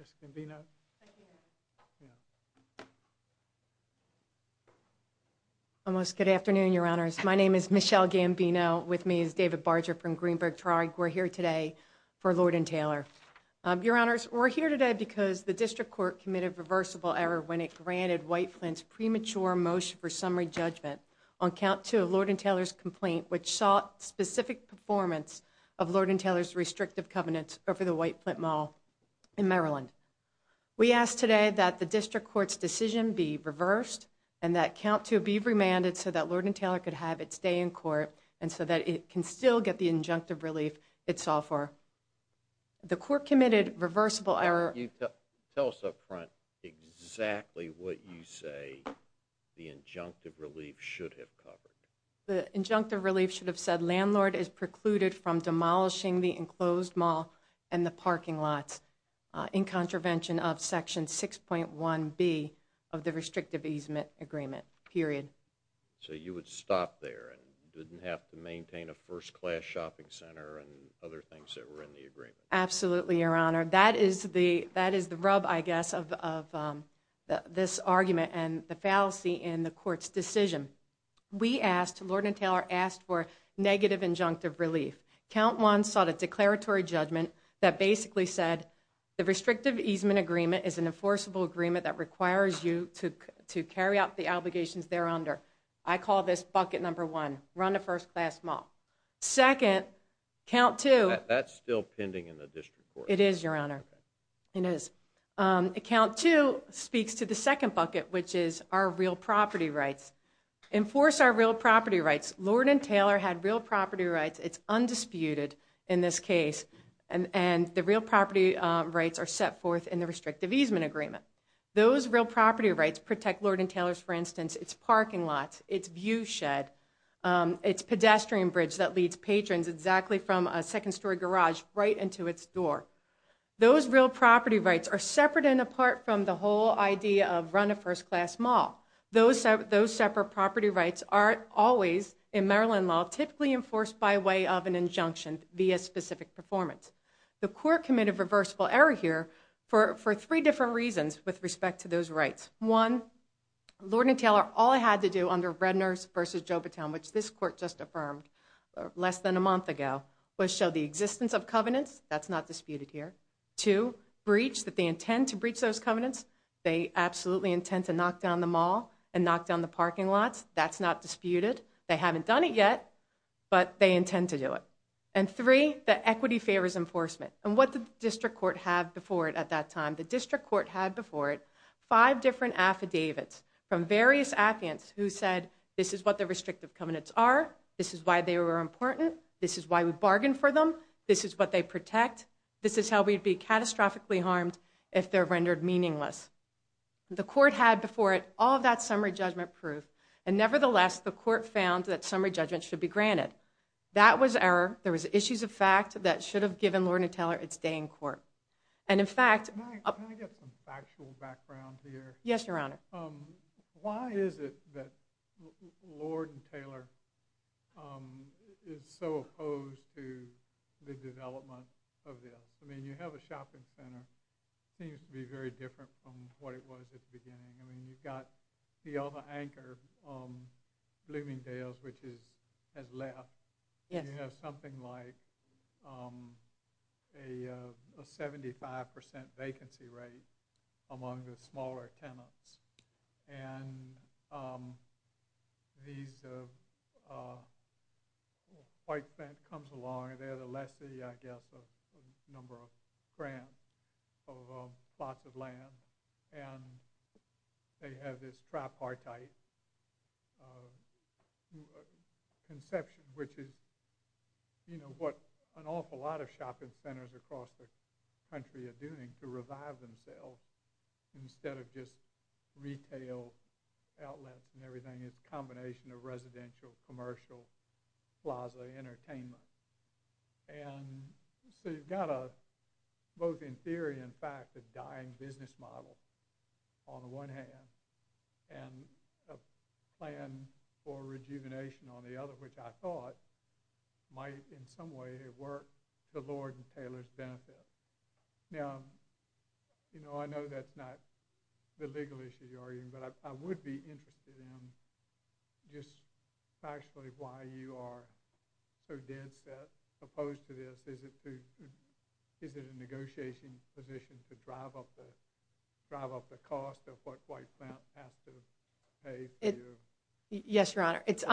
Mr. Gambino. Thank you. Good afternoon, Your Honors. My name is Michele Gambino. With me is David Barger from Greenberg Tariq. We're here today for Lord & Taylor. Your Honors, we're here today because the District Court committed reversible error when it granted White Flint's premature motion for summary judgment on count two of Lord & Taylor's complaint which sought specific performance of Lord & Taylor's restrictive covenants over the White Flint Mall in Maryland. We ask today that the District Court's decision be reversed and that count two be remanded so that Lord & Taylor could have its day in court and so that it can still get the injunctive relief it's all for. The court committed reversible error. Tell us up front exactly what you say the injunctive relief should have covered. The injunctive relief should have said landlord is precluded from demolishing the enclosed mall and the parking lots in contravention of section 6.1 B of the restrictive easement agreement period. So you would stop there and didn't have to go to the first class shopping center and other things that were in the agreement. Absolutely, Your Honor. That is the rub, I guess, of this argument and the fallacy in the court's decision. We asked, Lord & Taylor asked for negative injunctive relief. Count one sought a declaratory judgment that basically said the restrictive easement agreement is an enforceable agreement that requires you to carry out the obligations there under. I call this bucket number one. Run a first-class mall. Second, count two. That's still pending in the district court. It is, Your Honor. It is. Count two speaks to the second bucket which is our real property rights. Enforce our real property rights. Lord & Taylor had real property rights. It's undisputed in this case and and the real property rights are set forth in the restrictive easement agreement. Those real property rights protect Lord & Taylor from a second-story garage right into its door. Those real property rights are separate and apart from the whole idea of run a first-class mall. Those separate property rights are always in Maryland law typically enforced by way of an injunction via specific performance. The court committed reversible error here for three different reasons with respect to those rights. One, Lord & Taylor all I had to do under Redner's versus Jobaton, which this court just affirmed less than a month ago, was show the existence of covenants. That's not disputed here. Two, breach that they intend to breach those covenants. They absolutely intend to knock down the mall and knock down the parking lots. That's not disputed. They haven't done it yet, but they intend to do it. And three, the equity favors enforcement and what the district court had before it at that time. The district court had before it five different affidavits from various applicants who said this is what the restrictive covenants are, this is why they were important, this is why we bargained for them, this is what they protect, this is how we'd be catastrophically harmed if they're rendered meaningless. The court had before it all that summary judgment proof and nevertheless the court found that summary judgment should be granted. That was error. There was issues of fact that should have given Lord & Taylor its day in court. And in fact... Can I get some factual background here? Yes, your honor. Why is it that Lord & Taylor is so opposed to the development of this? I mean, you have a shopping center, seems to be very different from what it was at the beginning. I mean, you've got the other anchor, Bloomingdale's, which has left. You know, something like a 75% vacancy rate among the smaller tenants. And these white bank comes along, they're the less the, I guess, number of grants of lots of you know, what an awful lot of shopping centers across the country are doing to revive themselves instead of just retail outlets and everything. It's a combination of residential, commercial, plaza, entertainment. And so you've got a, both in theory and fact, a dying business model on the one hand and a plan for might, in some way, work the Lord & Taylor's benefit. Now, you know, I know that's not the legal issue you're arguing, but I would be interested in just factually why you are so dead set, opposed to this. Is it a negotiation position to drive up the cost of what white plants have to pay for you? Yes, your honor. It's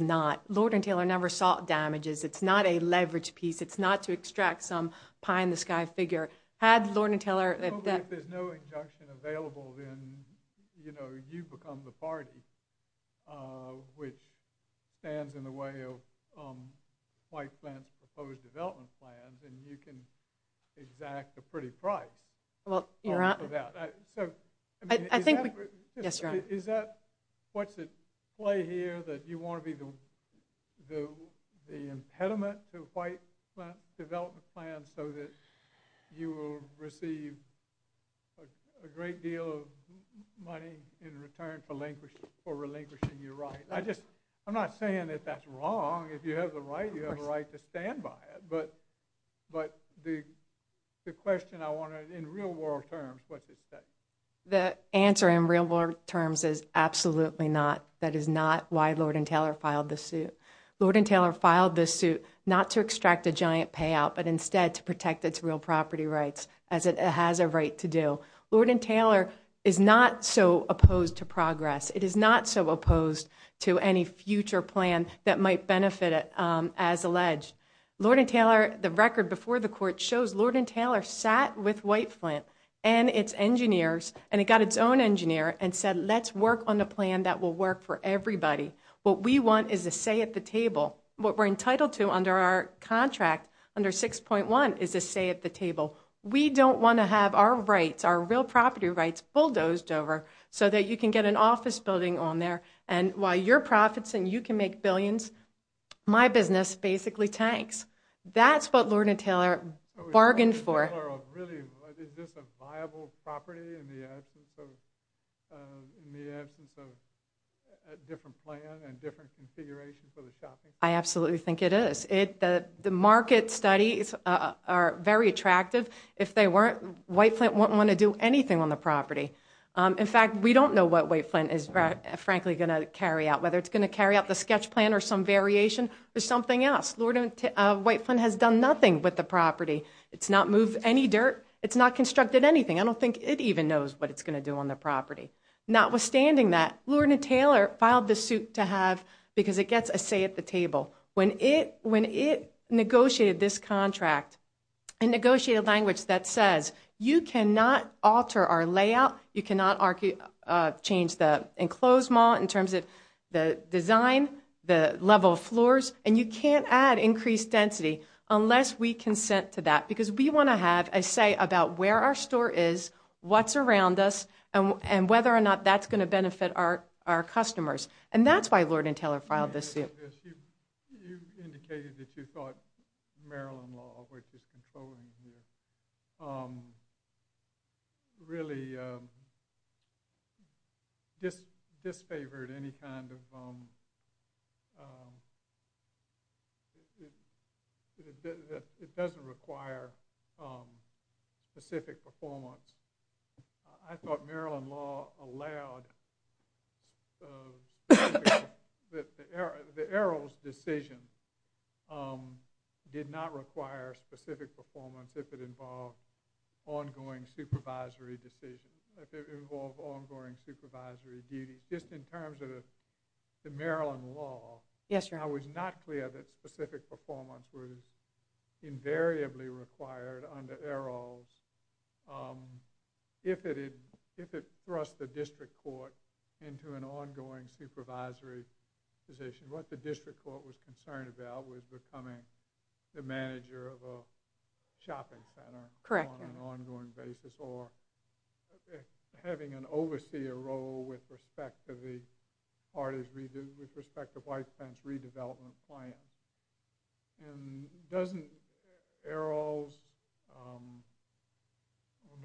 not. Lord & Taylor never sought damages. It's not a leverage piece. It's not to extract some pie-in-the-sky figure. Had Lord & Taylor... If there's no injunction available, then, you know, you become the party, which stands in the way of white plants' proposed development plans, and you can exact a pretty price. Well, your honor... I think... Yes, your honor. Is that what's at play here, that you want to be the impediment to white development plans so that you will receive a great deal of money in return for relinquishing your right? I just, I'm not saying that that's wrong. If you have the right, you have a right to stand by it. But the question I want to, in real world terms, what's at stake? The answer in real world terms is absolutely not. That is not why Lord & Taylor filed this suit. Lord & Taylor filed this suit not to extract a giant payout, but instead to protect its real property rights, as it has a right to do. Lord & Taylor is not so opposed to progress. It is not so opposed to any future plan that might benefit it, as alleged. Lord & Taylor, the record before the court, shows Lord & Taylor sat with white plant and its engineers, and it got its own engineer, and said, let's work on a plan that will work for everybody. What we want is a say at the table. What we're entitled to under our contract, under 6.1, is a say at the table. We don't want to have our rights, our real property rights, bulldozed over so that you can get an office building on there. And while your profits and you can make billions, my business basically tanks. That's what Lord & Taylor bargained for. Is this a viable property in the absence of a different plan and different configuration for the shopping mall? I don't think it even knows what it's going to do on the property. Notwithstanding that, Lord & Taylor filed the suit to have, because it gets a say at the table. When it negotiated this contract, and negotiated a language that says, you cannot alter our layout, you cannot change the enclosed mall in terms of the design, the level of floors, and you can't add increased density unless we consent to that. Because we want to have a say about where our store is, what's around us, and whether or not that's going to benefit our customers. And that's why Lord & Taylor filed this suit. You indicated that you thought Maryland law, which is controlling here, really disfavored any kind of, it doesn't require specific performance. I thought Maryland law allowed, the Errol's decision did not require specific performance if it involved ongoing supervisory decisions, if it involved ongoing supervisory duty. Just in terms of the Maryland law, I was not clear that specific performance was invariably required under Errol's if it thrust the district court into an ongoing supervisory position. What the district court was concerned about was becoming the manager of a shopping center on an ongoing basis, or having an overseer role with respect to the White Fence redevelopment plan. And doesn't Errol's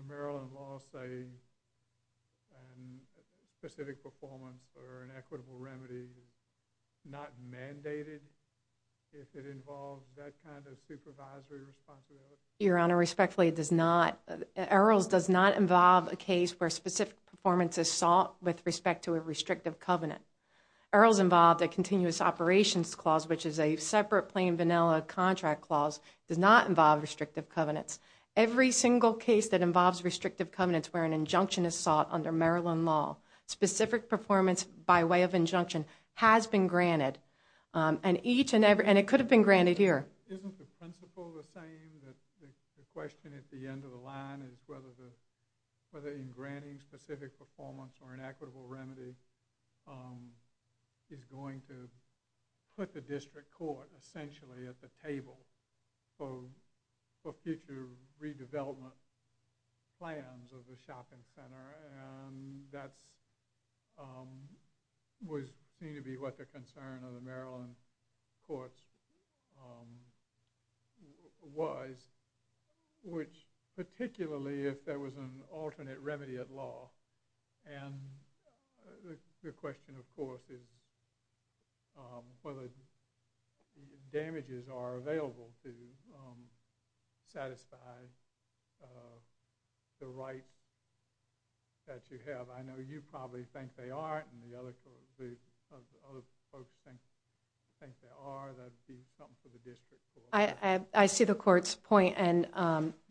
Maryland law say specific performance or an equitable remedy is not mandated if it involves that kind of supervisory responsibility? Your Honor, respectfully, Errol's does not involve a case where specific performance is sought with respect to a restrictive covenant. Errol's involved a continuous operations clause, which is a separate plain vanilla contract clause, does not involve restrictive covenants. Every single case that involves restrictive covenants where an injunction is sought under Maryland law, specific performance by way of injunction has been granted. And it could have been granted here. Isn't the principle the same, that the question at the end of the line is whether in granting specific performance or an equitable remedy is going to put the district court essentially at the table for future redevelopment plans of the shopping center? And that was seen to be what the concern of the Maryland courts was, which particularly if there was an alternate remedy at law, and the question of course is whether damages are available to satisfy the right that you have. I know you probably think they are, and the other folks think they are. That would be something for the district court. I see the court's point. And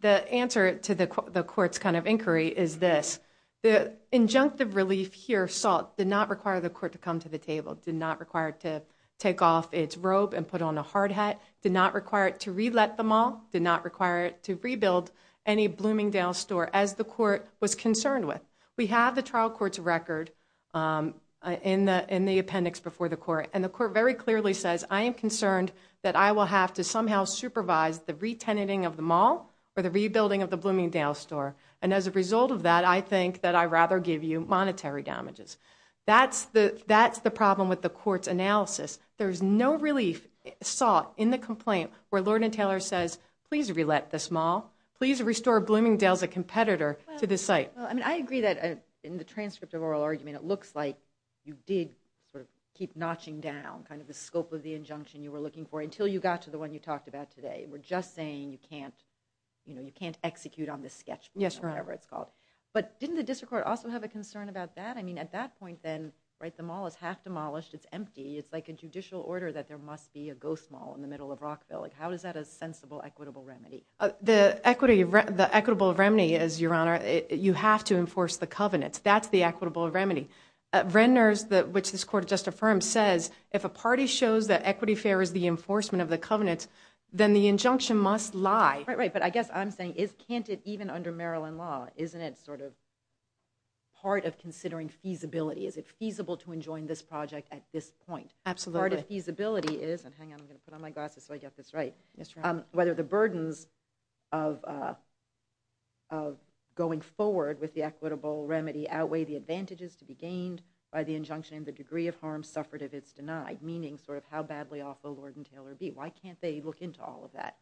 the answer to the court's kind of inquiry is this. The injunctive relief here sought did not require the court to come to the table, did not require it to take off its robe and put on a hard hat, did not require it to re-let the mall, did not require it to rebuild any Bloomingdale store, as the court was concerned with. We have the trial court's record in the appendix before the court, and the court very clearly says, I am concerned that I will have to somehow supervise the re-tenanting of the mall or the rebuilding of the Bloomingdale store. And as a result of that, I think that I'd rather give you monetary damages. That's the problem with the court's analysis. There's no relief sought in the complaint where Lord and Taylor says, please re-let this mall, please restore Bloomingdale as a competitor to this site. I agree that in the transcript of oral argument, it looks like you did sort of keep notching down kind of the scope of the injunction you were looking for until you got to the one you talked about today. We're just saying you can't, you know, you can't execute on this sketch, whatever it's called. But didn't the district court also have a concern about that? I mean, at that point, then, right, the mall is half demolished. It's empty. It's like a judicial order that there must be a ghost mall in the middle of Rockville. How is that a sensible, equitable remedy? The equity, the equitable remedy is, Your Honor, you have to enforce the covenants. That's the equitable remedy. Renner's, which this court just affirmed, says if a party shows that equity fair is the enforcement of the covenants, then the injunction must lie. Right, right. But I guess I'm saying, can't it even under Maryland law? Isn't it sort of part of considering feasibility? Is it feasible to enjoin this project at this point? Absolutely. Part of feasibility is, and hang on, I'm going to put on my glasses so I get this right. Whether the burdens of going forward with the equitable remedy outweigh the advantages to be gained by the injunction and the degree of harm suffered if it's denied, meaning sort of how badly off will Lord and Taylor be? Why can't they look into all of that?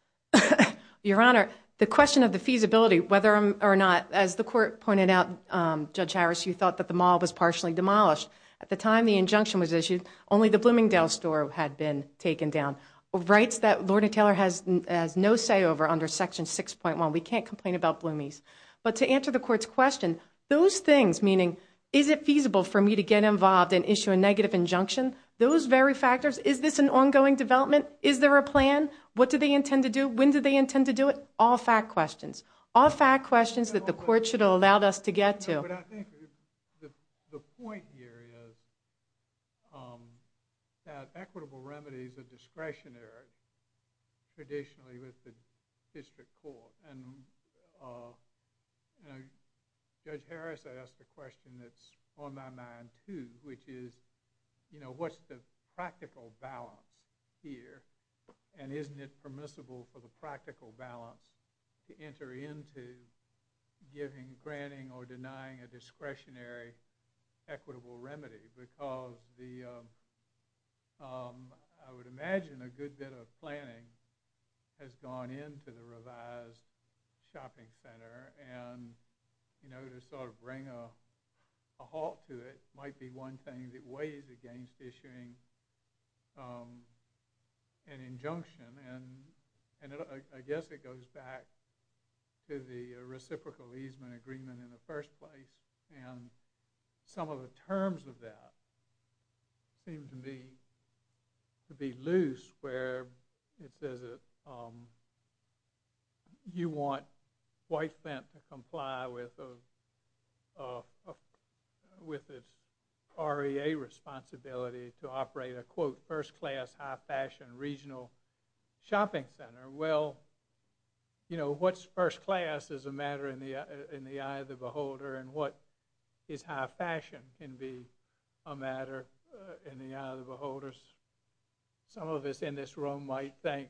Your Honor, the question of the feasibility, whether or not, as the court pointed out, Judge Harris, you thought that the mall was partially demolished. At the time the injunction was issued, only the Bloomingdale's store had been taken down. Rights that Lord and Taylor has no say over under section 6.1. We can't complain about Bloomingdale's. But to answer the court's question, those things, meaning, is it feasible for me to get involved and issue a negative injunction? Those very factors, is this an ongoing development? Is there a plan? What do they intend to do? When do they intend to do it? All fact questions. All fact questions that the court should have allowed us to get to. I think the point here is that equitable remedy is a discretionary traditionally with the district court. Judge Harris asked a question that's on my mind, too, which is, what's the practical balance here and isn't it permissible for the practical balance to enter into giving, a discretionary equitable remedy? Because the, I would imagine a good bit of planning has gone into the revised shopping center and, you know, to sort of bring a halt to it might be one thing that weighs against issuing an injunction. And I guess it goes back to the reciprocal easement agreement in the first place. And some of the terms of that seem to me to be loose where it says that you want White Fent to comply with its REA responsibility to operate a, quote, first class, high fashion, regional shopping center. Well, you know, what's first class is a matter in the eye of the beholder and what is high fashion can be a matter in the eye of the beholders. Some of us in this room might think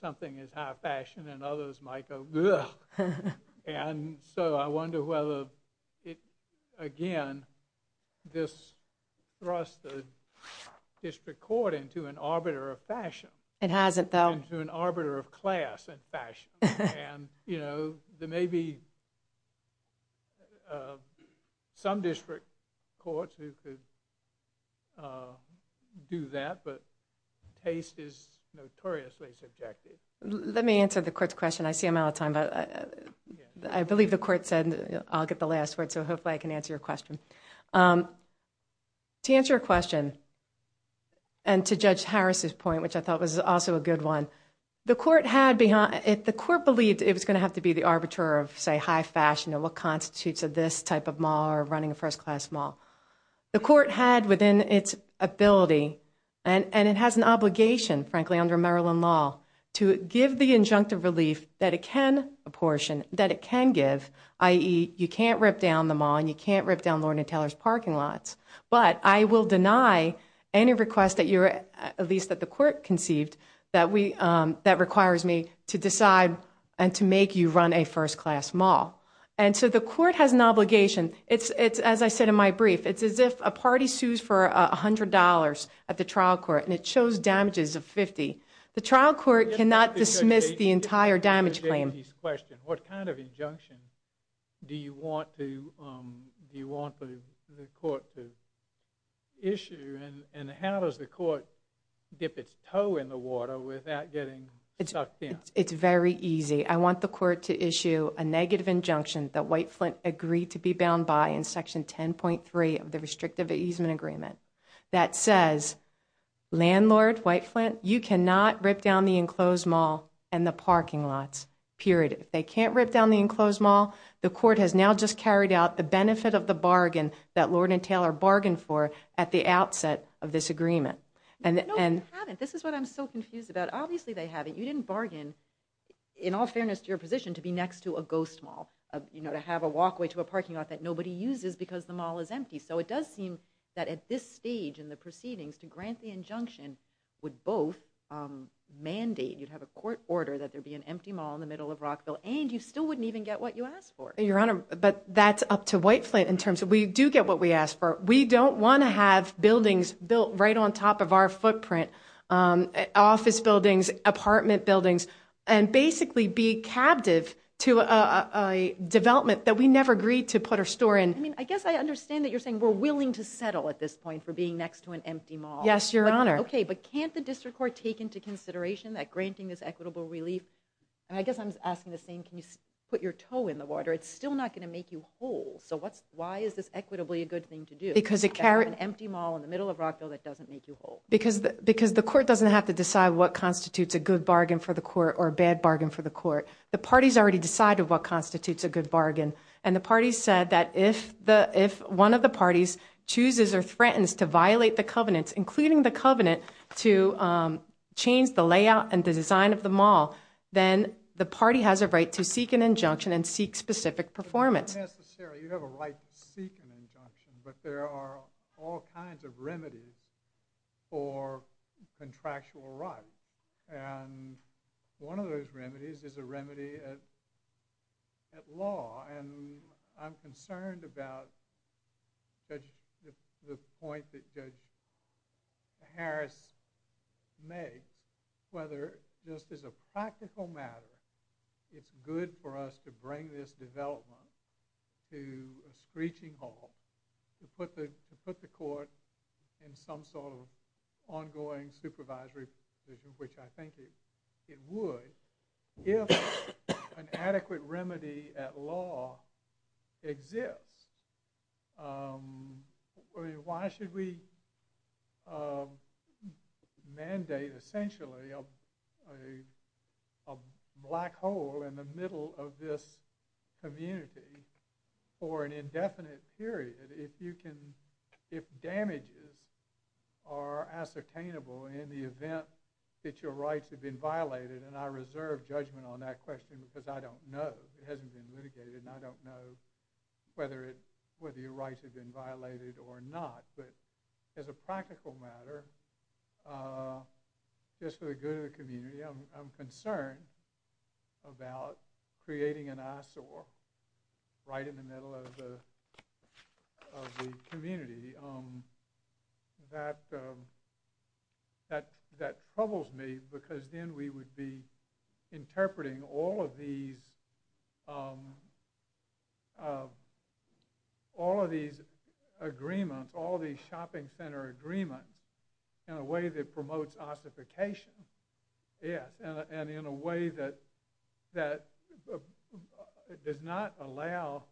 something is high fashion and others might go, ugh. And so I wonder whether, again, this thrusts the district court into an arbiter of fashion. It hasn't, though. Into an arbiter of class and fashion. And, you know, there may be some district courts who could do that, but taste is notoriously subjective. Let me answer the court's question. I see I'm out of time, but I believe the court said I'll get the last word, so hopefully I can answer your question. To answer your question and to Judge Harris's point, which I thought was also a good one, the court believed it was going to have to be the arbiter of, say, high fashion and what constitutes this type of mall or running a first class mall. The court had within its ability, and it has an obligation, frankly, under Maryland law to give the injunctive relief that it can apportion, that it can give, i.e., you can't rip down the mall and you can't rip down Lorna Taylor's parking lots. But I will deny any request, at least that the court conceived, that requires me to decide and to make you run a first class mall. And so the court has an obligation. It's, as I said in my brief, it's as if a party sues for $100 at the trial court and it shows damages of 50. The trial court cannot dismiss the entire damage claim. I just want to get to J.T.'s question. What kind of injunction do you want the court to issue and how does the court dip its toe in the water without getting sucked in? It's very easy. I want the court to issue a negative injunction that White Flint agreed to be bound by in section 10.3 of the restrictive easement agreement that says, landlord White Flint, you cannot rip down the enclosed mall and the parking lots, period. If they can't rip down the enclosed mall, the court has now just carried out the benefit of the bargain that Lorna Taylor bargained for at the outset of this agreement. No, they haven't. This is what I'm so confused about. Obviously they haven't. You didn't bargain, in all fairness to your position, to be next to a ghost mall, you know, to have a walkway to a parking lot that nobody uses because the mall is empty. So it does seem that at this stage in the proceedings to grant the injunction would both mandate, you'd have a court order that there be an empty mall in the middle of Rockville and you still wouldn't even get what you asked for. Your Honor, but that's up to White Flint in terms of we do get what we ask for. We don't want to have buildings built right on top of our footprint, office buildings, apartment buildings, and basically be captive to a development that we never agreed to put our store in. I guess I understand that you're saying we're willing to settle at this point for being next to an empty mall. Yes, Your Honor. Okay, but can't the district court take into consideration that granting this equitable relief, and I guess I'm asking the same, can you put your toe in the water? It's still not going to make you whole. So why is this equitably a good thing to do? Because it carries an empty mall in the middle of Rockville that doesn't make you whole. Because the court doesn't have to decide what constitutes a good bargain for the court or a bad bargain for the court. The parties already decided what constitutes a good bargain. And the parties said that if one of the parties chooses or threatens to violate the covenant, including the covenant to change the layout and the design of the mall, then the party has a right to seek an injunction and seek specific performance. It's not necessary. You have a right to seek an injunction. But there are all kinds of remedies for contractual rights. And one of those remedies is a remedy at law. And I'm concerned about the point that Judge Harris made, whether this is a practical matter. It's good for us to bring this development to a screeching halt, to put the court in some sort of ongoing supervisory position, which I think it would, if an adequate remedy at law exists. Why should we mandate, essentially, a black hole in the middle of this community for an are ascertainable in the event that your rights have been violated? And I reserve judgment on that question, because I don't know. It hasn't been litigated. And I don't know whether your rights have been violated or not. But as a practical matter, just for the good of the community, I'm concerned about creating an eyesore right in the middle of the community. And that troubles me, because then we would be interpreting all of these agreements, all these shopping center agreements, in a way that promotes ossification, yes, and in a way that does not allow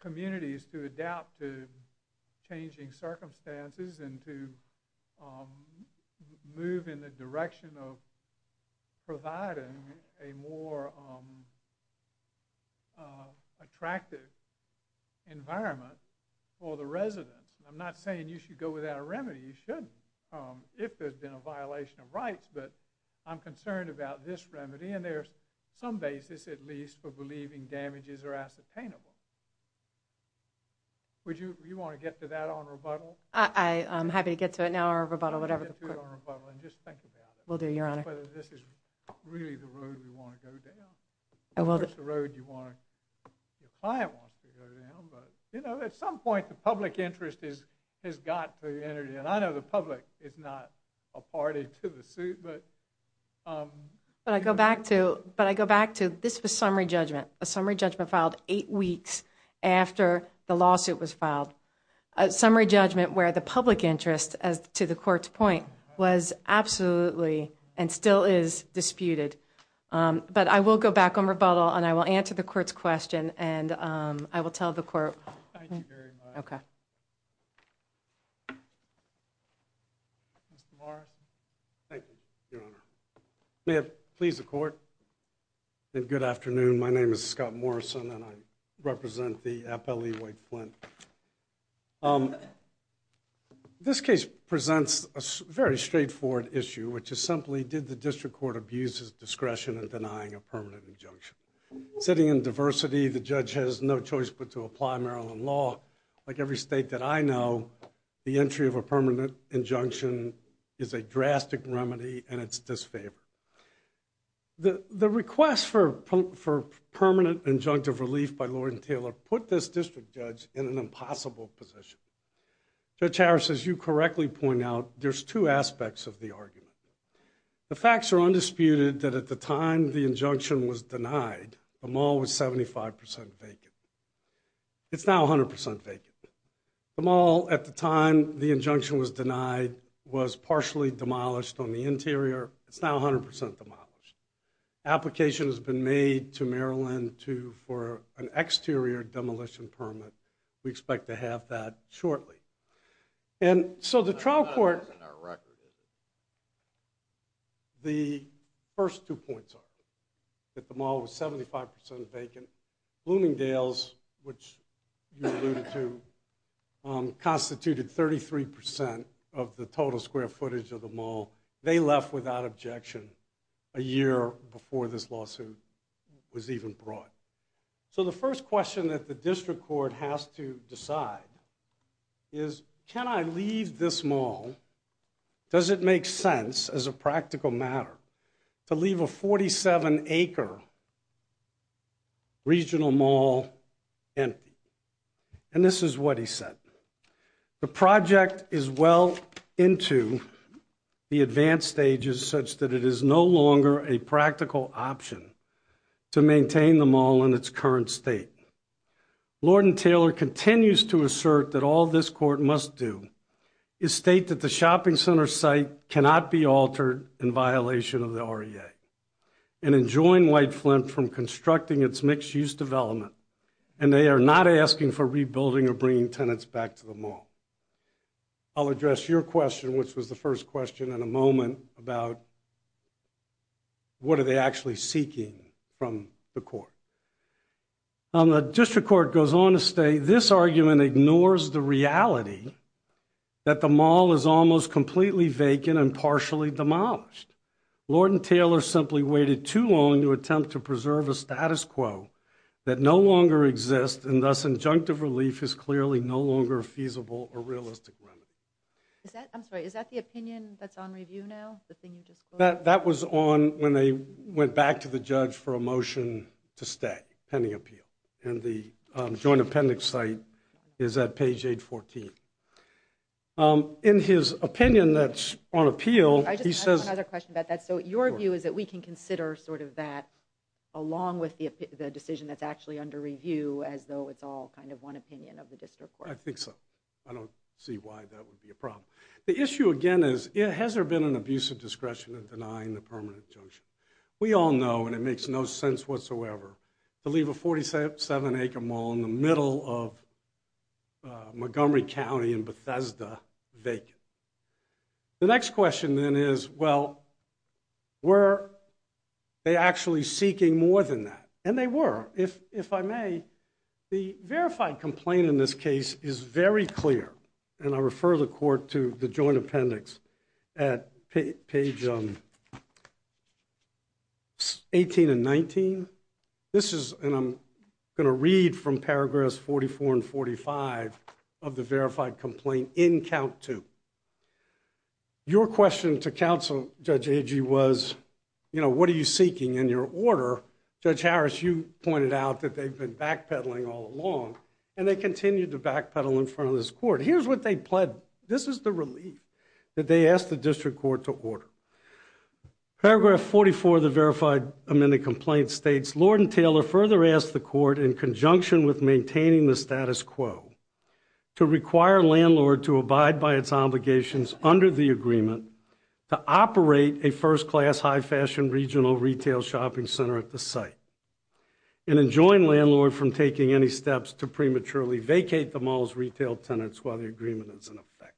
communities to adapt to changing circumstances and to move in the direction of providing a more attractive environment for the residents. I'm not saying you should go without a remedy. You shouldn't, if there's been a violation of rights. But I'm concerned about this remedy. And there's some basis, at least, for believing damages are ascertainable. Would you want to get to that on rebuttal? I'm happy to get to it now, or rebuttal, whatever. Get to it on rebuttal, and just think about it. Will do, Your Honor. Whether this is really the road we want to go down. Of course, the road you want to, your client wants to go down. But at some point, the public interest has got to be entered in. I know the public is not a party to the suit. But I go back to, this was summary judgment. A summary judgment filed eight weeks after the lawsuit was filed. A summary judgment where the public interest, to the court's point, was absolutely, and still is, disputed. But I will go back on rebuttal, and I will answer the court's question, and I will tell the court. Thank you very much. OK. Mr. Morrison. Thank you, Your Honor. May it please the court, and good afternoon. My name is Scott Morrison, and I represent the FLE White Flint. This case presents a very straightforward issue, which is simply, did the district court abuse his discretion in denying a permanent injunction? Sitting in diversity, the judge has no choice but to apply Maryland law. Like every state that I know, the entry of a permanent injunction is a drastic remedy, and it's disfavored. The request for permanent injunctive relief by Lord and Taylor put this district judge in an impossible position. Judge Harris, as you correctly point out, there's two aspects of the argument. The facts are undisputed that at the time the injunction was denied, the mall was 75% vacant. It's now 100% vacant. The mall, at the time the injunction was denied, was partially demolished on the interior. It's now 100% demolished. Application has been made to Maryland for an exterior demolition permit. We expect to have that shortly. And so the trial court— The first two points are that the mall was 75% vacant. Bloomingdale's, which you alluded to, constituted 33% of the total square footage of the mall. They left without objection a year before this lawsuit was even brought. So the first question that the district court has to decide is, can I leave this mall? Does it make sense as a practical matter to leave a 47-acre regional mall empty? And this is what he said. The project is well into the advanced stages such that it is no longer a practical option to maintain the mall in its current state. Lord and Taylor continues to assert that all this court must do is state that the shopping center site cannot be altered in violation of the REA. And enjoin Whiteflint from constructing its mixed-use development. And they are not asking for rebuilding or bringing tenants back to the mall. I'll address your question, which was the first question, in a moment about what are they actually seeking from the court. The district court goes on to state this argument ignores the reality that the mall is almost completely vacant and partially demolished. Lord and Taylor simply waited too long to attempt to preserve a status quo that no longer exists and thus injunctive relief is clearly no longer feasible or realistic. I'm sorry, is that the opinion that's on review now? That was on when they went back to the judge for a motion to stay, pending appeal. And the joint appendix site is at page 814. Um, in his opinion that's on appeal, he says... I have another question about that. So your view is that we can consider sort of that, along with the decision that's actually under review, as though it's all kind of one opinion of the district court. I think so. I don't see why that would be a problem. The issue again is, has there been an abuse of discretion in denying the permanent junction? We all know, and it makes no sense whatsoever, to leave a 47-acre mall in the middle of Montgomery County and Bethesda vacant. The next question then is, well, were they actually seeking more than that? And they were, if I may. The verified complaint in this case is very clear. And I refer the court to the joint appendix at page 18 and 19. This is, and I'm going to read from paragraphs 44 and 45 of the verified complaint in count two. Your question to counsel, Judge Agee, was, you know, what are you seeking in your order? Judge Harris, you pointed out that they've been backpedaling all along, and they continue to backpedal in front of this court. Here's what they pled. This is the relief that they asked the district court to order. Paragraph 44 of the verified amended complaint states, Lord and Taylor further asked the court, in conjunction with maintaining the status quo, to require landlord to abide by its obligations under the agreement to operate a first-class high-fashion regional retail shopping center at the site, and enjoin landlord from taking any steps to prematurely vacate the mall's retail tenants while the agreement is in effect.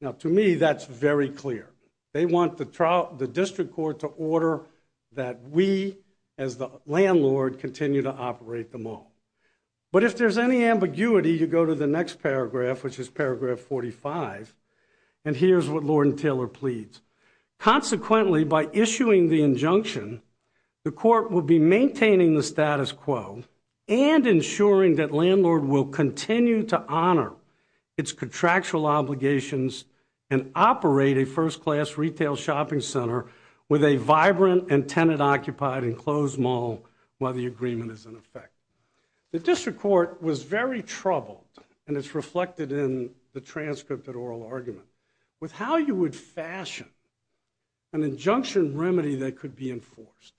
Now, to me, that's very clear. They want the district court to order that we, as the landlord, continue to operate the mall. But if there's any ambiguity, you go to the next paragraph, which is paragraph 45, and here's what Lord and Taylor pleads. Consequently, by issuing the injunction, the court will be maintaining the status quo and ensuring that landlord will continue to honor its contractual obligations and operate a first-class retail shopping center with a vibrant and tenant-occupied enclosed mall while the agreement is in effect. The district court was very troubled, and it's reflected in the transcripted oral argument, with how you would fashion an injunction remedy that could be enforced.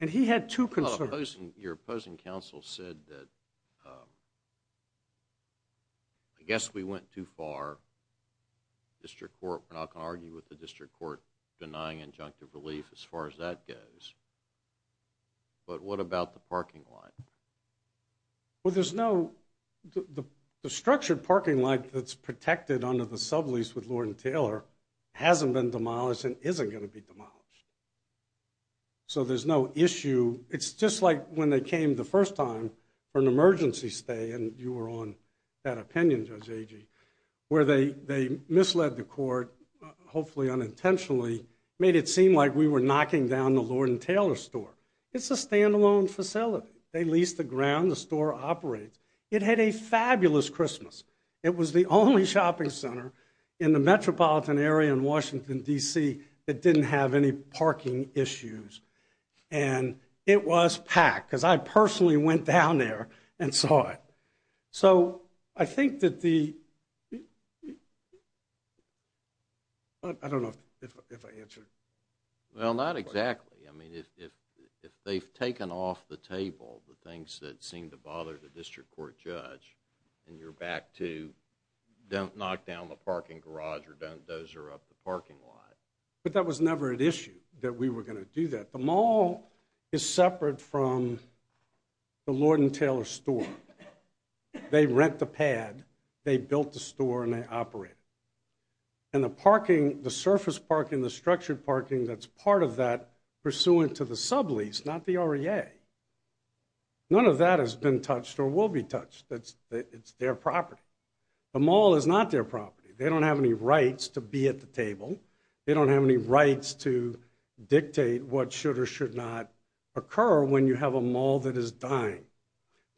And he had two concerns. Your opposing counsel said that, I guess we went too far. District court, we're not going to argue with the district court denying injunctive relief as far as that goes. But what about the parking lot? Well, there's no, the structured parking lot that's protected under the sublease with Lord and Taylor hasn't been demolished and isn't going to be demolished. So there's no issue. It's just like when they came the first time for an emergency stay, and you were on that opinion, Judge Agee, where they misled the court, hopefully unintentionally, made it seem like we were knocking down the Lord and Taylor store. It's a standalone facility. They lease the ground, the store operates. It had a fabulous Christmas. It was the only shopping center in the metropolitan area in Washington, D.C. that didn't have any parking issues. And it was packed because I personally went down there and saw it. So I think that the, I don't know if I answered. Well, not exactly. I mean, if they've taken off the table, the things that seem to bother the district court judge, and you're back to don't knock down the parking garage or don't dozer up the parking lot. But that was never an issue that we were going to do that. The mall is separate from the Lord and Taylor store. They rent the pad, they built the store, and they operate it. And the parking, the surface parking, the structured parking, that's part of that pursuant to the sublease, not the REA. None of that has been touched or will be touched. It's their property. The mall is not their property. They don't have any rights to be at the table. They don't have any rights to dictate what should or should not occur when you have a mall that is dying.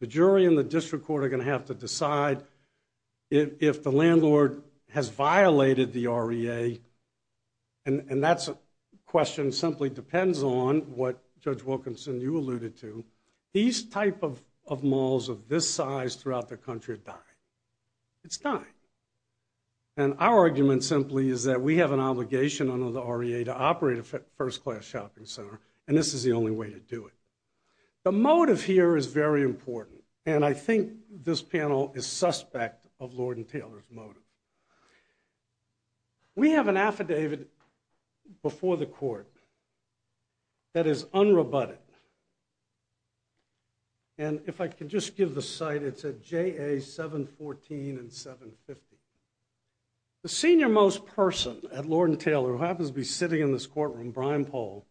The jury and the district court are going to have to decide if the landlord has violated the REA. And that's a question simply depends on what Judge Wilkinson, you alluded to. These type of malls of this size throughout the country are dying. It's dying. And our argument simply is that we have an obligation under the REA to operate a first-class shopping center. And this is the only way to do it. The motive here is very important. And I think this panel is suspect of Lord and Taylor's motive. We have an affidavit before the court that is unrebutted. And if I could just give the site, it's at JA 714 and 750. The senior most person at Lord and Taylor, who happens to be sitting in this courtroom, Brian Paul,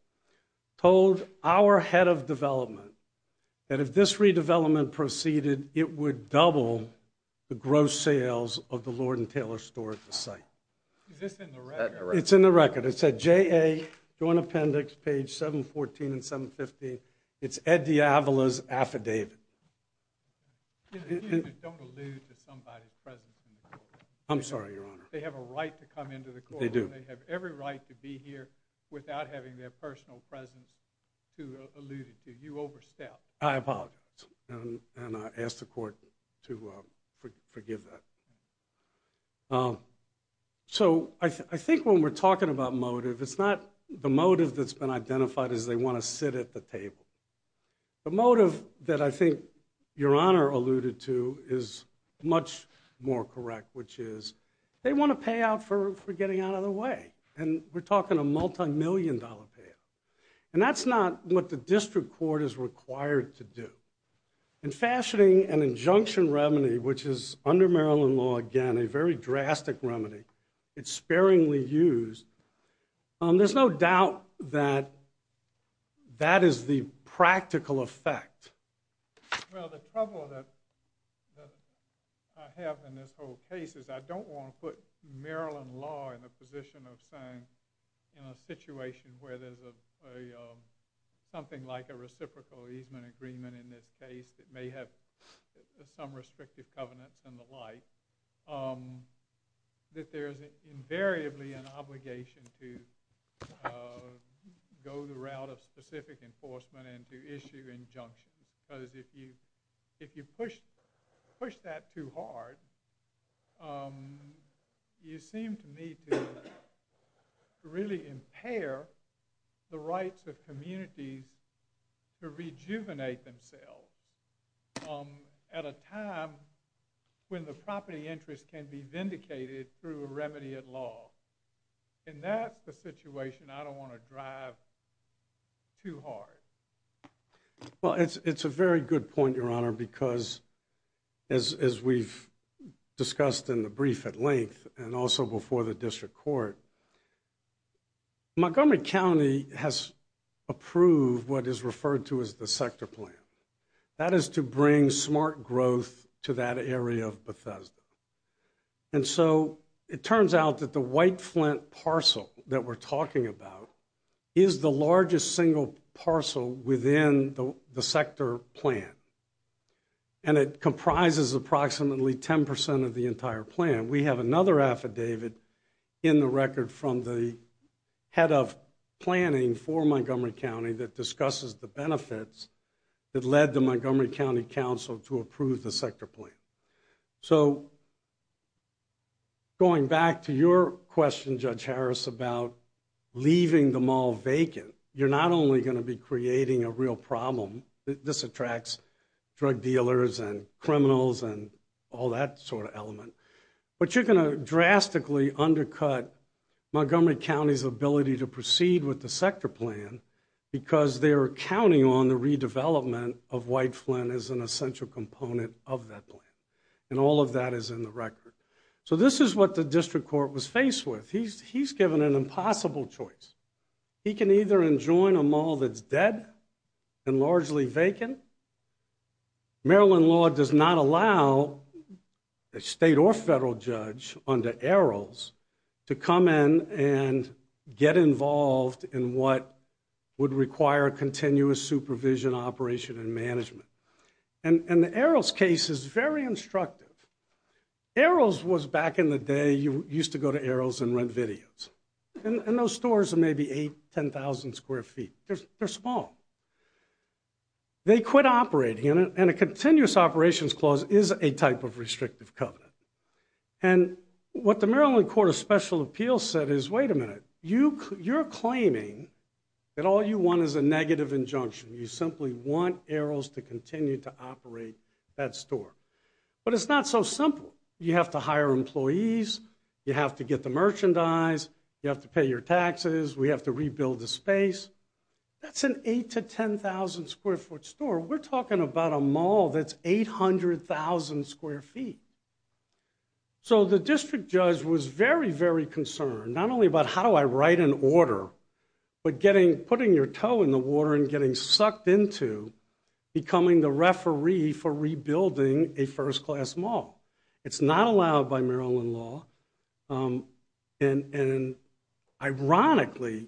told our head of development that if this redevelopment proceeded, it would double the gross sales of the Lord and Taylor store at the site. Is this in the record? It's in the record. It's at JA Joint Appendix, page 714 and 750. It's Ed DiAvola's affidavit. Excuse me, don't allude to somebody's presence in the courtroom. I'm sorry, Your Honor. They have a right to come into the courtroom. They do. They have every right to be here without having their personal presence to allude to. You overstepped. I apologize. And I ask the court to forgive that. So I think when we're talking about motive, it's not the motive that's been identified as they want to sit at the table. The motive that I think Your Honor alluded to is much more correct, which is they want to pay out for getting out of the way. And we're talking a multi-million dollar payoff. And that's not what the district court is required to do. And fashioning an injunction remedy, which is under Maryland law, again, a very drastic remedy, it's sparingly used, there's no doubt that that is the practical effect. Well, the trouble that I have in this whole case is I don't want to put Maryland law in the position of saying in a situation where there's something like a reciprocal easement agreement in this case that may have some restrictive covenants and the like, um, that there's invariably an obligation to go the route of specific enforcement and to issue injunctions. Because if you push that too hard, you seem to me to really impair the rights of communities to rejuvenate themselves um, at a time when the property interest can be vindicated through a remedy at law. And that's the situation I don't want to drive too hard. Well, it's a very good point, Your Honor, because as we've discussed in the brief at length and also before the district court, Montgomery County has approved what is referred to as the sector plan. That is to bring smart growth to that area of Bethesda. And so it turns out that the White Flint parcel that we're talking about is the largest single parcel within the sector plan. And it comprises approximately 10 percent of the entire plan. We have another affidavit in the record from the head of planning for Montgomery County that discusses the benefits that led the Montgomery County Council to approve the sector plan. So going back to your question, Judge Harris, about leaving the mall vacant, you're not only going to be creating a real problem, this attracts drug dealers and criminals and all that sort of element, but you're going to drastically undercut Montgomery County's ability to proceed with the sector plan because they're counting on the redevelopment of White Flint as an essential component of that plan. And all of that is in the record. So this is what the district court was faced with. He's given an impossible choice. He can either enjoin a mall that's dead and largely vacant. Maryland law does not allow a state or federal judge under arrows to come in and get involved in what would require continuous supervision, operation, and management. And the arrows case is very instructive. Arrows was back in the day, you used to go to arrows and rent videos. And those stores are maybe 8,000, 10,000 square feet. They're small. They quit operating. And a continuous operations clause is a type of restrictive covenant. And what the Maryland Court of Special Appeals said is, wait a minute, you're claiming that all you want is a negative injunction. You simply want arrows to continue to operate that store. But it's not so simple. You have to hire employees. You have to get the merchandise. You have to pay your taxes. We have to rebuild the space. That's an 8,000 to 10,000 square foot store. We're talking about a mall that's 800,000 square feet. So the district judge was very, very concerned, not only about how do I write an order, but getting, putting your toe in the water and getting sucked into becoming the referee for rebuilding a first class mall. It's not allowed by Maryland law. And ironically,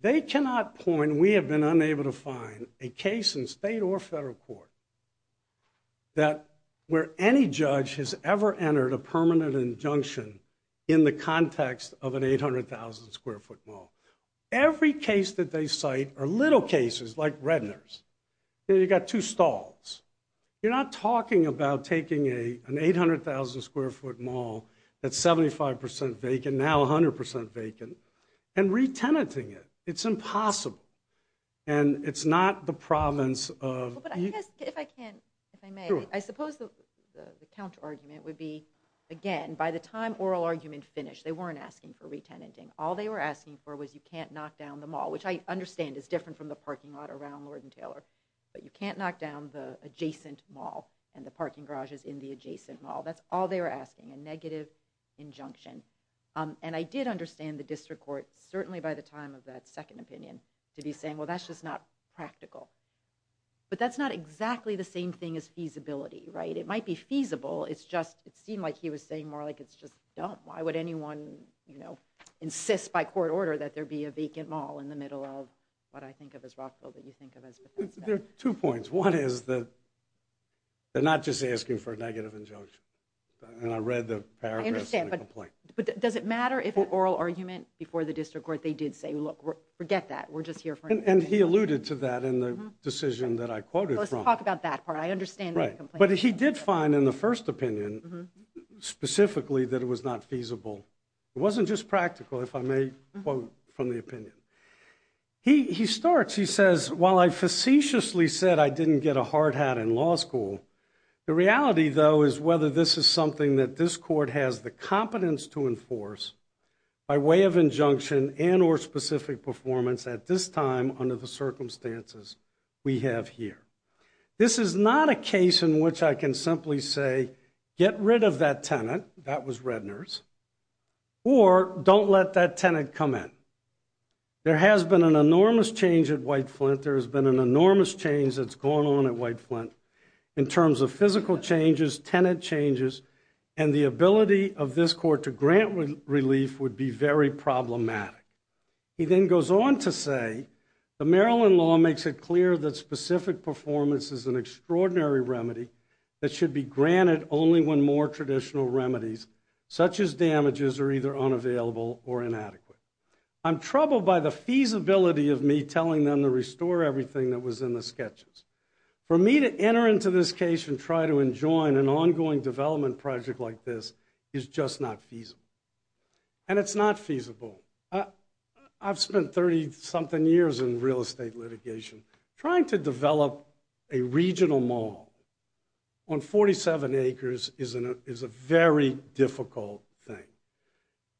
they cannot point, we have been unable to find a case in state or federal court that, where any judge has ever entered a permanent injunction in the context of an 800,000 square foot mall. Every case that they cite are little cases like Redner's. You got two stalls. You're not talking about taking an 800,000 square foot mall that's 75% vacant, now 100% vacant, and re-tenanting it. It's impossible. And it's not the province of- If I can, if I may, I suppose the counter argument would be, again, by the time oral argument finished, they weren't asking for re-tenanting. All they were asking for was you can't knock down the mall, which I understand is different from the parking lot around Lord and Taylor, but you can't knock down the adjacent mall and the parking garages in the adjacent mall. That's all they were asking, a negative injunction. And I did understand the district court, certainly by the time of that second opinion, to be saying, well, that's just not practical. But that's not exactly the same thing as feasibility, right? It might be feasible. It's just, it seemed like he was saying more like it's just dumb. Why would anyone, you know, insist by court order that there be a vacant mall in the middle of what I think of as Rockville that you think of as Bethesda? There are two points. One is that they're not just asking for a negative injunction. And I read the paragraphs of the complaint. But does it matter if an oral argument before the district court, they did say, look, forget that. We're just here for- And he alluded to that in the decision that I quoted from. Let's talk about that part. I understand that complaint. But he did find in the first opinion, specifically, that it was not feasible. It wasn't just practical, if I may quote from the opinion. He starts, he says, while I facetiously said I didn't get a hard hat in law school, the reality, though, is whether this is something that this court has the competence to enforce by way of injunction and or specific performance at this time under the circumstances we have here. This is not a case in which I can simply say, get rid of that tenant. That was Redner's. Or don't let that tenant come in. There has been an enormous change at White Flint. There has been an enormous change that's gone on at White Flint in terms of physical changes, tenant changes, and the ability of this court to grant relief would be very problematic. He then goes on to say, the Maryland law makes it clear that specific performance is an extraordinary remedy that should be granted only when more traditional remedies, such as damages, are either unavailable or inadequate. I'm troubled by the feasibility of me telling them to restore everything that was in the sketches. For me to enter into this case and try to enjoin an ongoing development project like this is just not feasible. And it's not feasible. I've spent 30-something years in real estate litigation. Trying to develop a regional mall on 47 acres is a very difficult thing.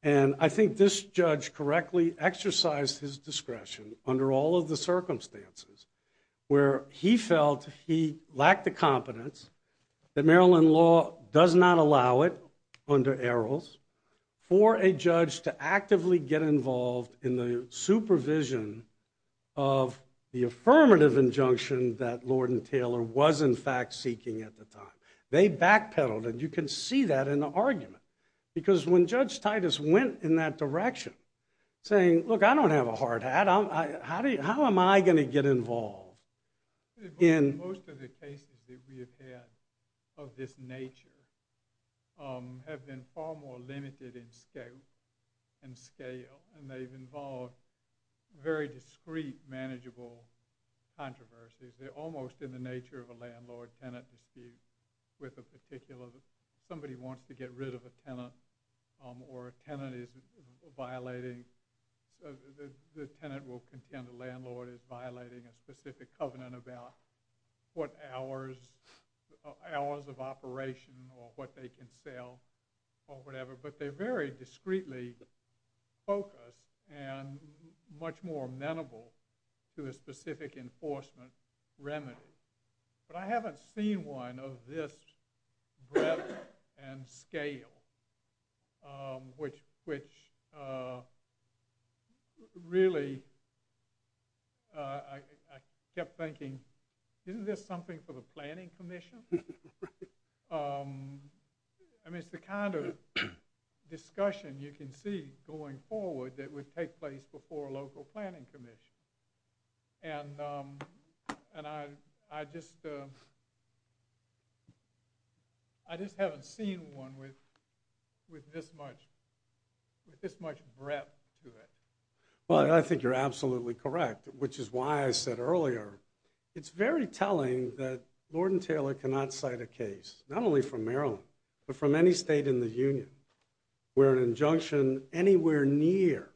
And I think this judge correctly exercised his discretion under all of the circumstances where he felt he lacked the competence that Maryland law does not allow it under ERLs for a judge to actively get involved in the supervision of the affirmative injunction that Lord and Taylor was, in fact, seeking at the time. They backpedaled. And you can see that in the argument. Because when Judge Titus went in that direction, saying, look, I don't have a hard hat. How am I going to get involved? Most of the cases that we have had of this nature have been far more limited in scale. And they've involved very discreet, manageable controversies. They're almost in the nature of a landlord-tenant dispute with a particular... or a tenant is violating... the tenant will contend the landlord is violating a specific covenant about what hours of operation or what they can sell or whatever. But they're very discreetly focused and much more amenable to a specific enforcement remedy. But I haven't seen one of this breadth and scale. Which really, I kept thinking, isn't this something for the Planning Commission? I mean, it's the kind of discussion you can see going forward that would take place before a local planning commission. And I just haven't seen one with this much breadth to it. Well, I think you're absolutely correct, which is why I said earlier, it's very telling that Lord and Taylor cannot cite a case, not only from Maryland, but from any state in the union, where an injunction anywhere near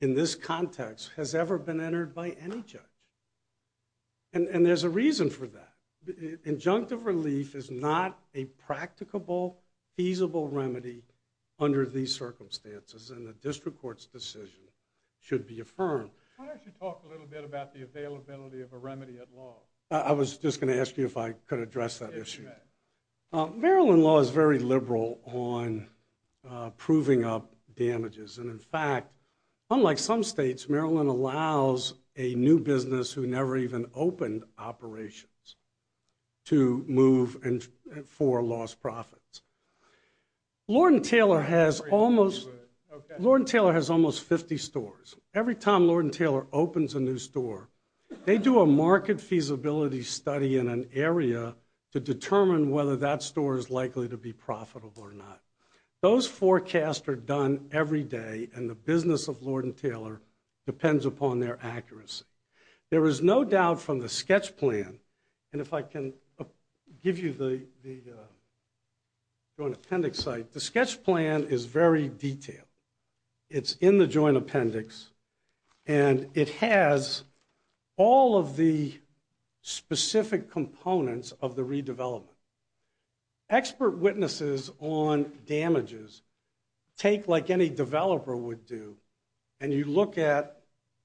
in this context has ever been entered by any judge. And there's a reason for that. Injunctive relief is not a practicable, feasible remedy under these circumstances. And the district court's decision should be affirmed. Why don't you talk a little bit about the availability of a remedy at law? I was just going to ask you if I could address that issue. Maryland law is very liberal on proving up damages. And in fact, unlike some states, Maryland allows a new business who never even opened operations to move for lost profits. Lord and Taylor has almost 50 stores. Every time Lord and Taylor opens a new store, they do a market feasibility study in an area to determine whether that store is likely to be profitable or not. Those forecasts are done every day. And the business of Lord and Taylor depends upon their accuracy. There is no doubt from the sketch plan, and if I can give you the Joint Appendix site, the sketch plan is very detailed. It's in the Joint Appendix. And it has all of the specific components of the redevelopment. Expert witnesses on damages take like any developer would do. And you look at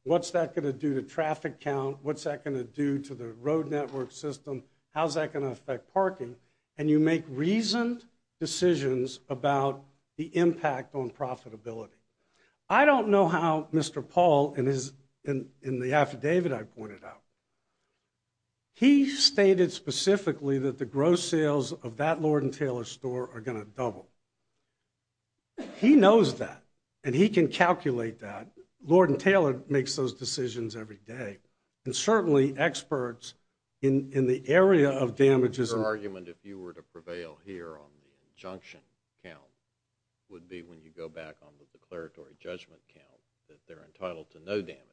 what's that going to do to traffic count? What's that going to do to the road network system? How's that going to affect parking? And you make reasoned decisions about the impact on profitability. I don't know how Mr. Paul, in the affidavit I pointed out, he stated specifically that the gross sales of that Lord and Taylor store are going to double. He knows that. And he can calculate that. Lord and Taylor makes those decisions every day. And certainly experts in the area of damages... Your argument, if you were to prevail here on the injunction count, would be when you go back on the declaratory judgment count, that they're entitled to no damages.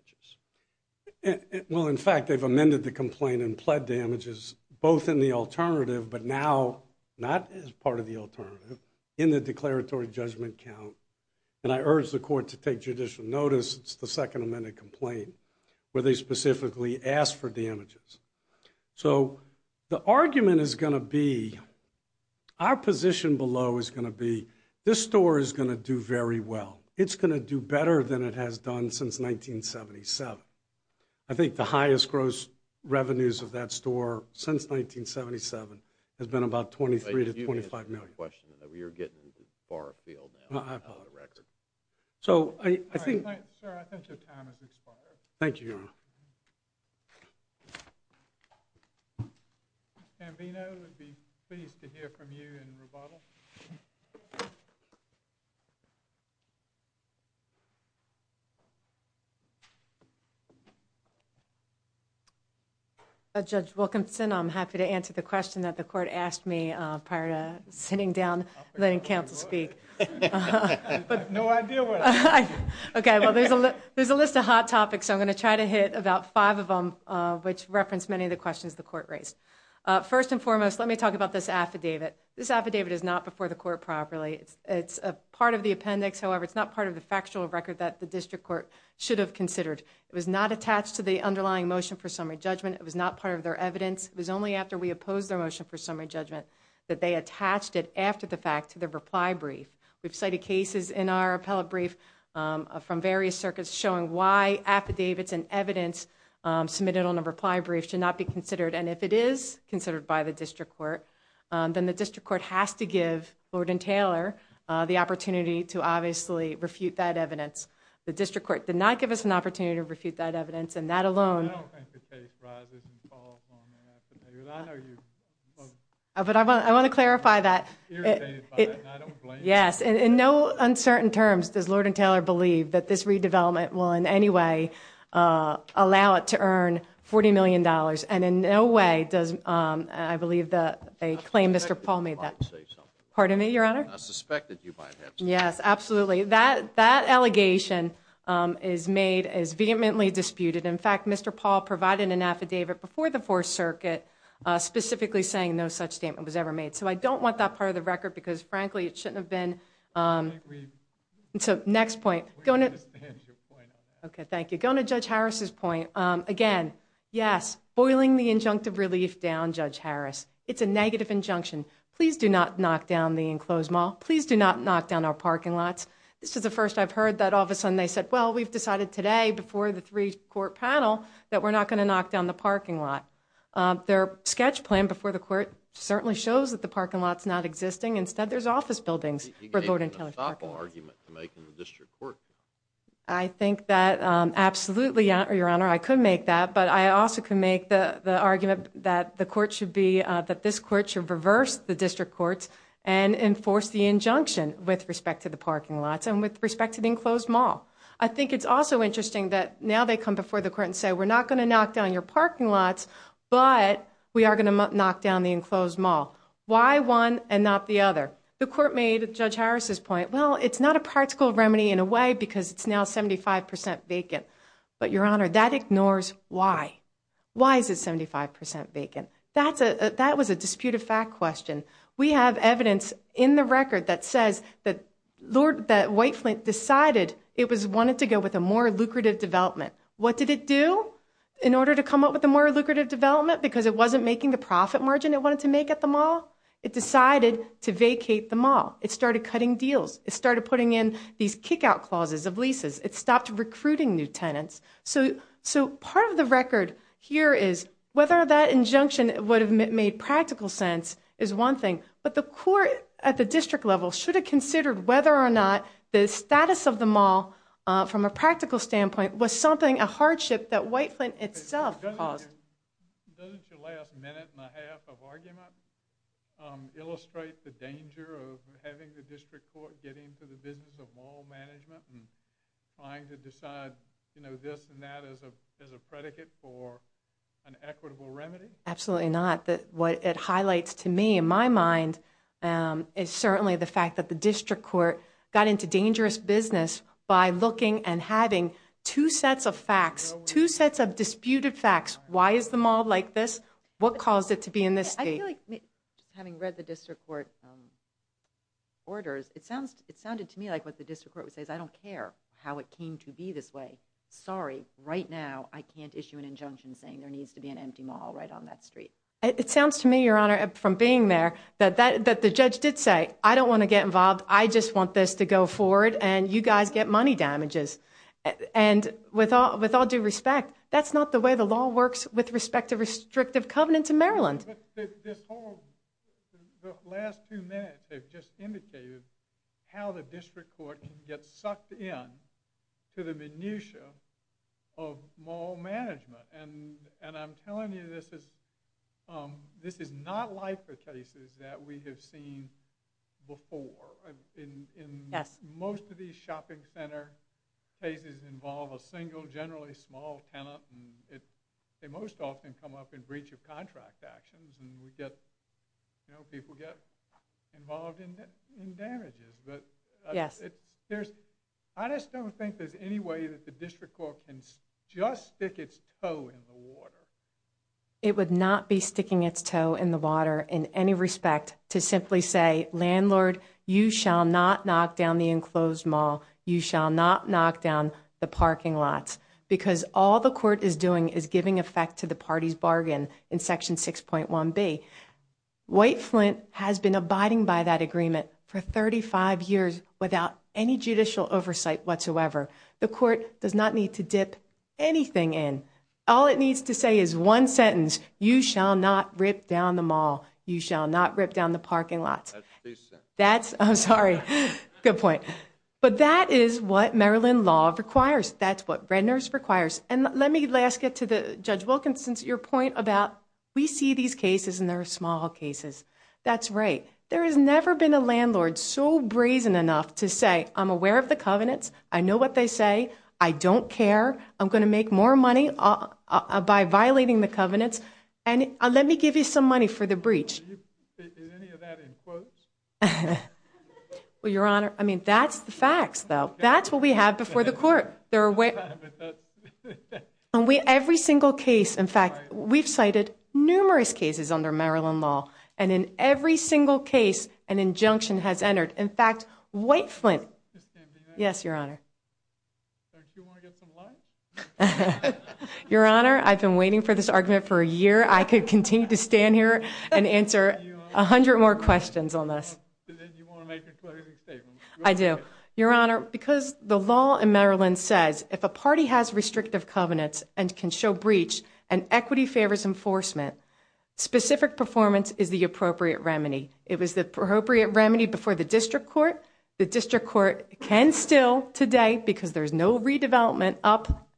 Well, in fact, they've amended the complaint and pled damages, both in the alternative, but now not as part of the alternative, in the declaratory judgment count. And I urge the court to take judicial notice. It's the second amended complaint where they specifically ask for damages. So the argument is going to be, our position below is going to be, this store is going to do very well. It's going to do better than it has done since 1977. I think the highest gross revenues of that store since 1977 has been about $23 to $25 million. You're getting far afield now. So I think... Thank you, Your Honor. Thank you, Your Honor. Ambieno, it would be pleased to hear from you in rebuttal. Judge Wilkinson, I'm happy to answer the question that the court asked me prior to sitting down and letting counsel speak. I have no idea what it is. Okay, well, there's a list of hot topics. I'm going to try to hit about five of them, which reference many of the questions the court raised. First and foremost, let me talk about this affidavit. This affidavit is not before the court properly. It's a part of the appendix. However, it's not part of the factual record that the district court should have considered. It was not attached to the underlying motion for summary judgment. It was not part of their evidence. It was only after we opposed their motion for summary judgment that they attached it after the fact to the reply brief. We've cited cases in our appellate brief from various circuits showing why affidavits and evidence submitted on a reply brief should not be considered. And if it is considered by the district court, then the district court has to give Lord and Taylor the opportunity to obviously refute that evidence. The district court did not give us an opportunity to refute that evidence. And that alone... I don't think the case rises and falls on the affidavit. I know you both... But I want to clarify that. ...irritated by it, and I don't blame you. Yes, in no uncertain terms does Lord and Taylor believe that this redevelopment will in any way allow it to earn $40 million. And in no way does... I believe that a claim Mr. Paul made that... Pardon me, Your Honor? I suspected you might have... Yes, absolutely. That allegation is made as vehemently disputed. In fact, Mr. Paul provided an affidavit before the Fourth Circuit specifically saying no such statement was ever made. So I don't want that part of the record because frankly, it shouldn't have been... So next point. Okay, thank you. Going to Judge Harris's point. Again, yes, boiling the injunctive relief down, Judge Harris. It's a negative injunction. Please do not knock down the enclosed mall. Please do not knock down our parking lots. This is the first I've heard that all of a sudden they said, well, we've decided today before the three-court panel that we're not going to knock down the parking lot. Their sketch plan before the court certainly shows that the parking lot's not existing. Instead, there's office buildings. You gave an unstoppable argument to make in the district court. I think that absolutely, Your Honor, I could make that. But I also can make the argument that the court should be, that this court should reverse the district courts and enforce the injunction with respect to the parking lots and with respect to the enclosed mall. I think it's also interesting that now they come before the court and say we're not going to knock down your parking lots, but we are going to knock down the enclosed mall. Why one and not the other? The court made Judge Harris's point, well, it's not a practical remedy in a way because it's now 75% vacant. But, Your Honor, that ignores why. Why is it 75% vacant? That was a disputed fact question. We have evidence in the record that says that White Flint decided it wanted to go with a more lucrative development. What did it do in order to come up with a more lucrative development? Because it wasn't making the profit margin it wanted to make at the mall. It decided to vacate the mall. It started cutting deals. It started putting in these kick-out clauses of leases. It stopped recruiting new tenants. So part of the record here is whether that injunction would have made practical sense is one thing. But the court at the district level should have considered whether or not the status of the mall from a practical standpoint was something, a hardship that White Flint itself caused. Doesn't your last minute and a half of argument illustrate the danger of having the district court get into the business of mall management and trying to decide, you know, this and that as a predicate for an equitable remedy? Absolutely not. What it highlights to me, in my mind, is certainly the fact that the district court got into dangerous business by looking and having two sets of facts, two sets of disputed facts. Why is the mall like this? What caused it to be in this state? I feel like, having read the district court orders, it sounded to me like what the district court would say is, I don't care how it came to be this way. Sorry, right now I can't issue an injunction saying there needs to be an empty mall right on that street. It sounds to me, Your Honor, from being there, that the judge did say, I don't want to get involved. I just want this to go forward and you guys get money damages. And with all due respect, that's not the way the law works with respect to restrictive covenants in Maryland. The last two minutes have just indicated how the district court can get sucked in to the minutiae of mall management. And I'm telling you, this is not like the cases that we have seen before. In most of these shopping center cases involve a single, generally small, tenant. They most often come up in breach of contract actions. And we get, you know, people get involved in damages. But I just don't think there's any way that the district court can just stick its toe in the water. It would not be sticking its toe in the water in any respect to simply say, landlord, you shall not knock down the enclosed mall. You shall not knock down the parking lots. Because all the court is doing is giving effect to the party's bargain in section 6.1B. White Flint has been abiding by that agreement for 35 years without any judicial oversight whatsoever. The court does not need to dip anything in. All it needs to say is one sentence. You shall not rip down the mall. You shall not rip down the parking lots. That's decent. That's, I'm sorry. Good point. But that is what Maryland law requires. That's what Red Nurse requires. And let me last get to Judge Wilkinson's point about we see these cases and they're small cases. That's right. There has never been a landlord so brazen enough to say, I'm aware of the covenants. I know what they say. I don't care. I'm gonna make more money by violating the covenants. And let me give you some money for the breach. Is any of that in quotes? Well, Your Honor, I mean, that's the facts, though. That's what we have before the court. And we, every single case, in fact, we've cited numerous cases under Maryland law. And in every single case, an injunction has entered. In fact, White Flint. Yes, Your Honor. Don't you want to get some light? Your Honor, I've been waiting for this argument for a year. I could continue to stand here and answer a hundred more questions on this. I do. Your Honor, because the law in Maryland says if a party has restrictive covenants and can show breach and equity favors enforcement, specific performance is the appropriate remedy. It was the appropriate remedy before the district court. The district court can still today, because there's no redevelopment up,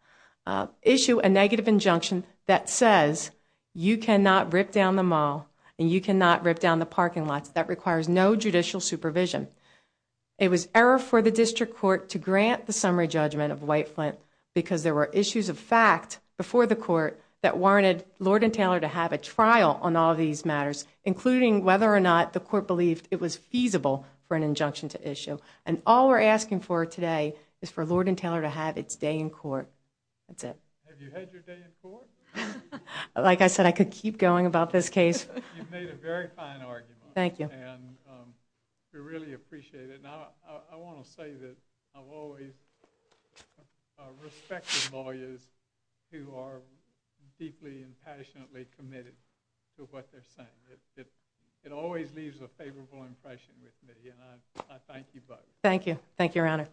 issue a negative injunction that says you cannot rip down the mall and you cannot rip down the parking lots. That requires no judicial supervision. It was error for the district court to grant the summary judgment of White Flint because there were issues of fact before the court that warranted Lord and Taylor to have a trial on all these matters, including whether or not the court believed it was feasible for an injunction to issue. And all we're asking for today is for Lord and Taylor to have its day in court. That's it. Have you had your day in court? Like I said, I could keep going about this case. You've made a very fine argument. Thank you. And we really appreciate it. Now, I want to say that I've always respected lawyers who are deeply and passionately committed to what they're saying. It always leaves a favorable impression with me. I thank you both. Thank you. Thank you, Your Honor.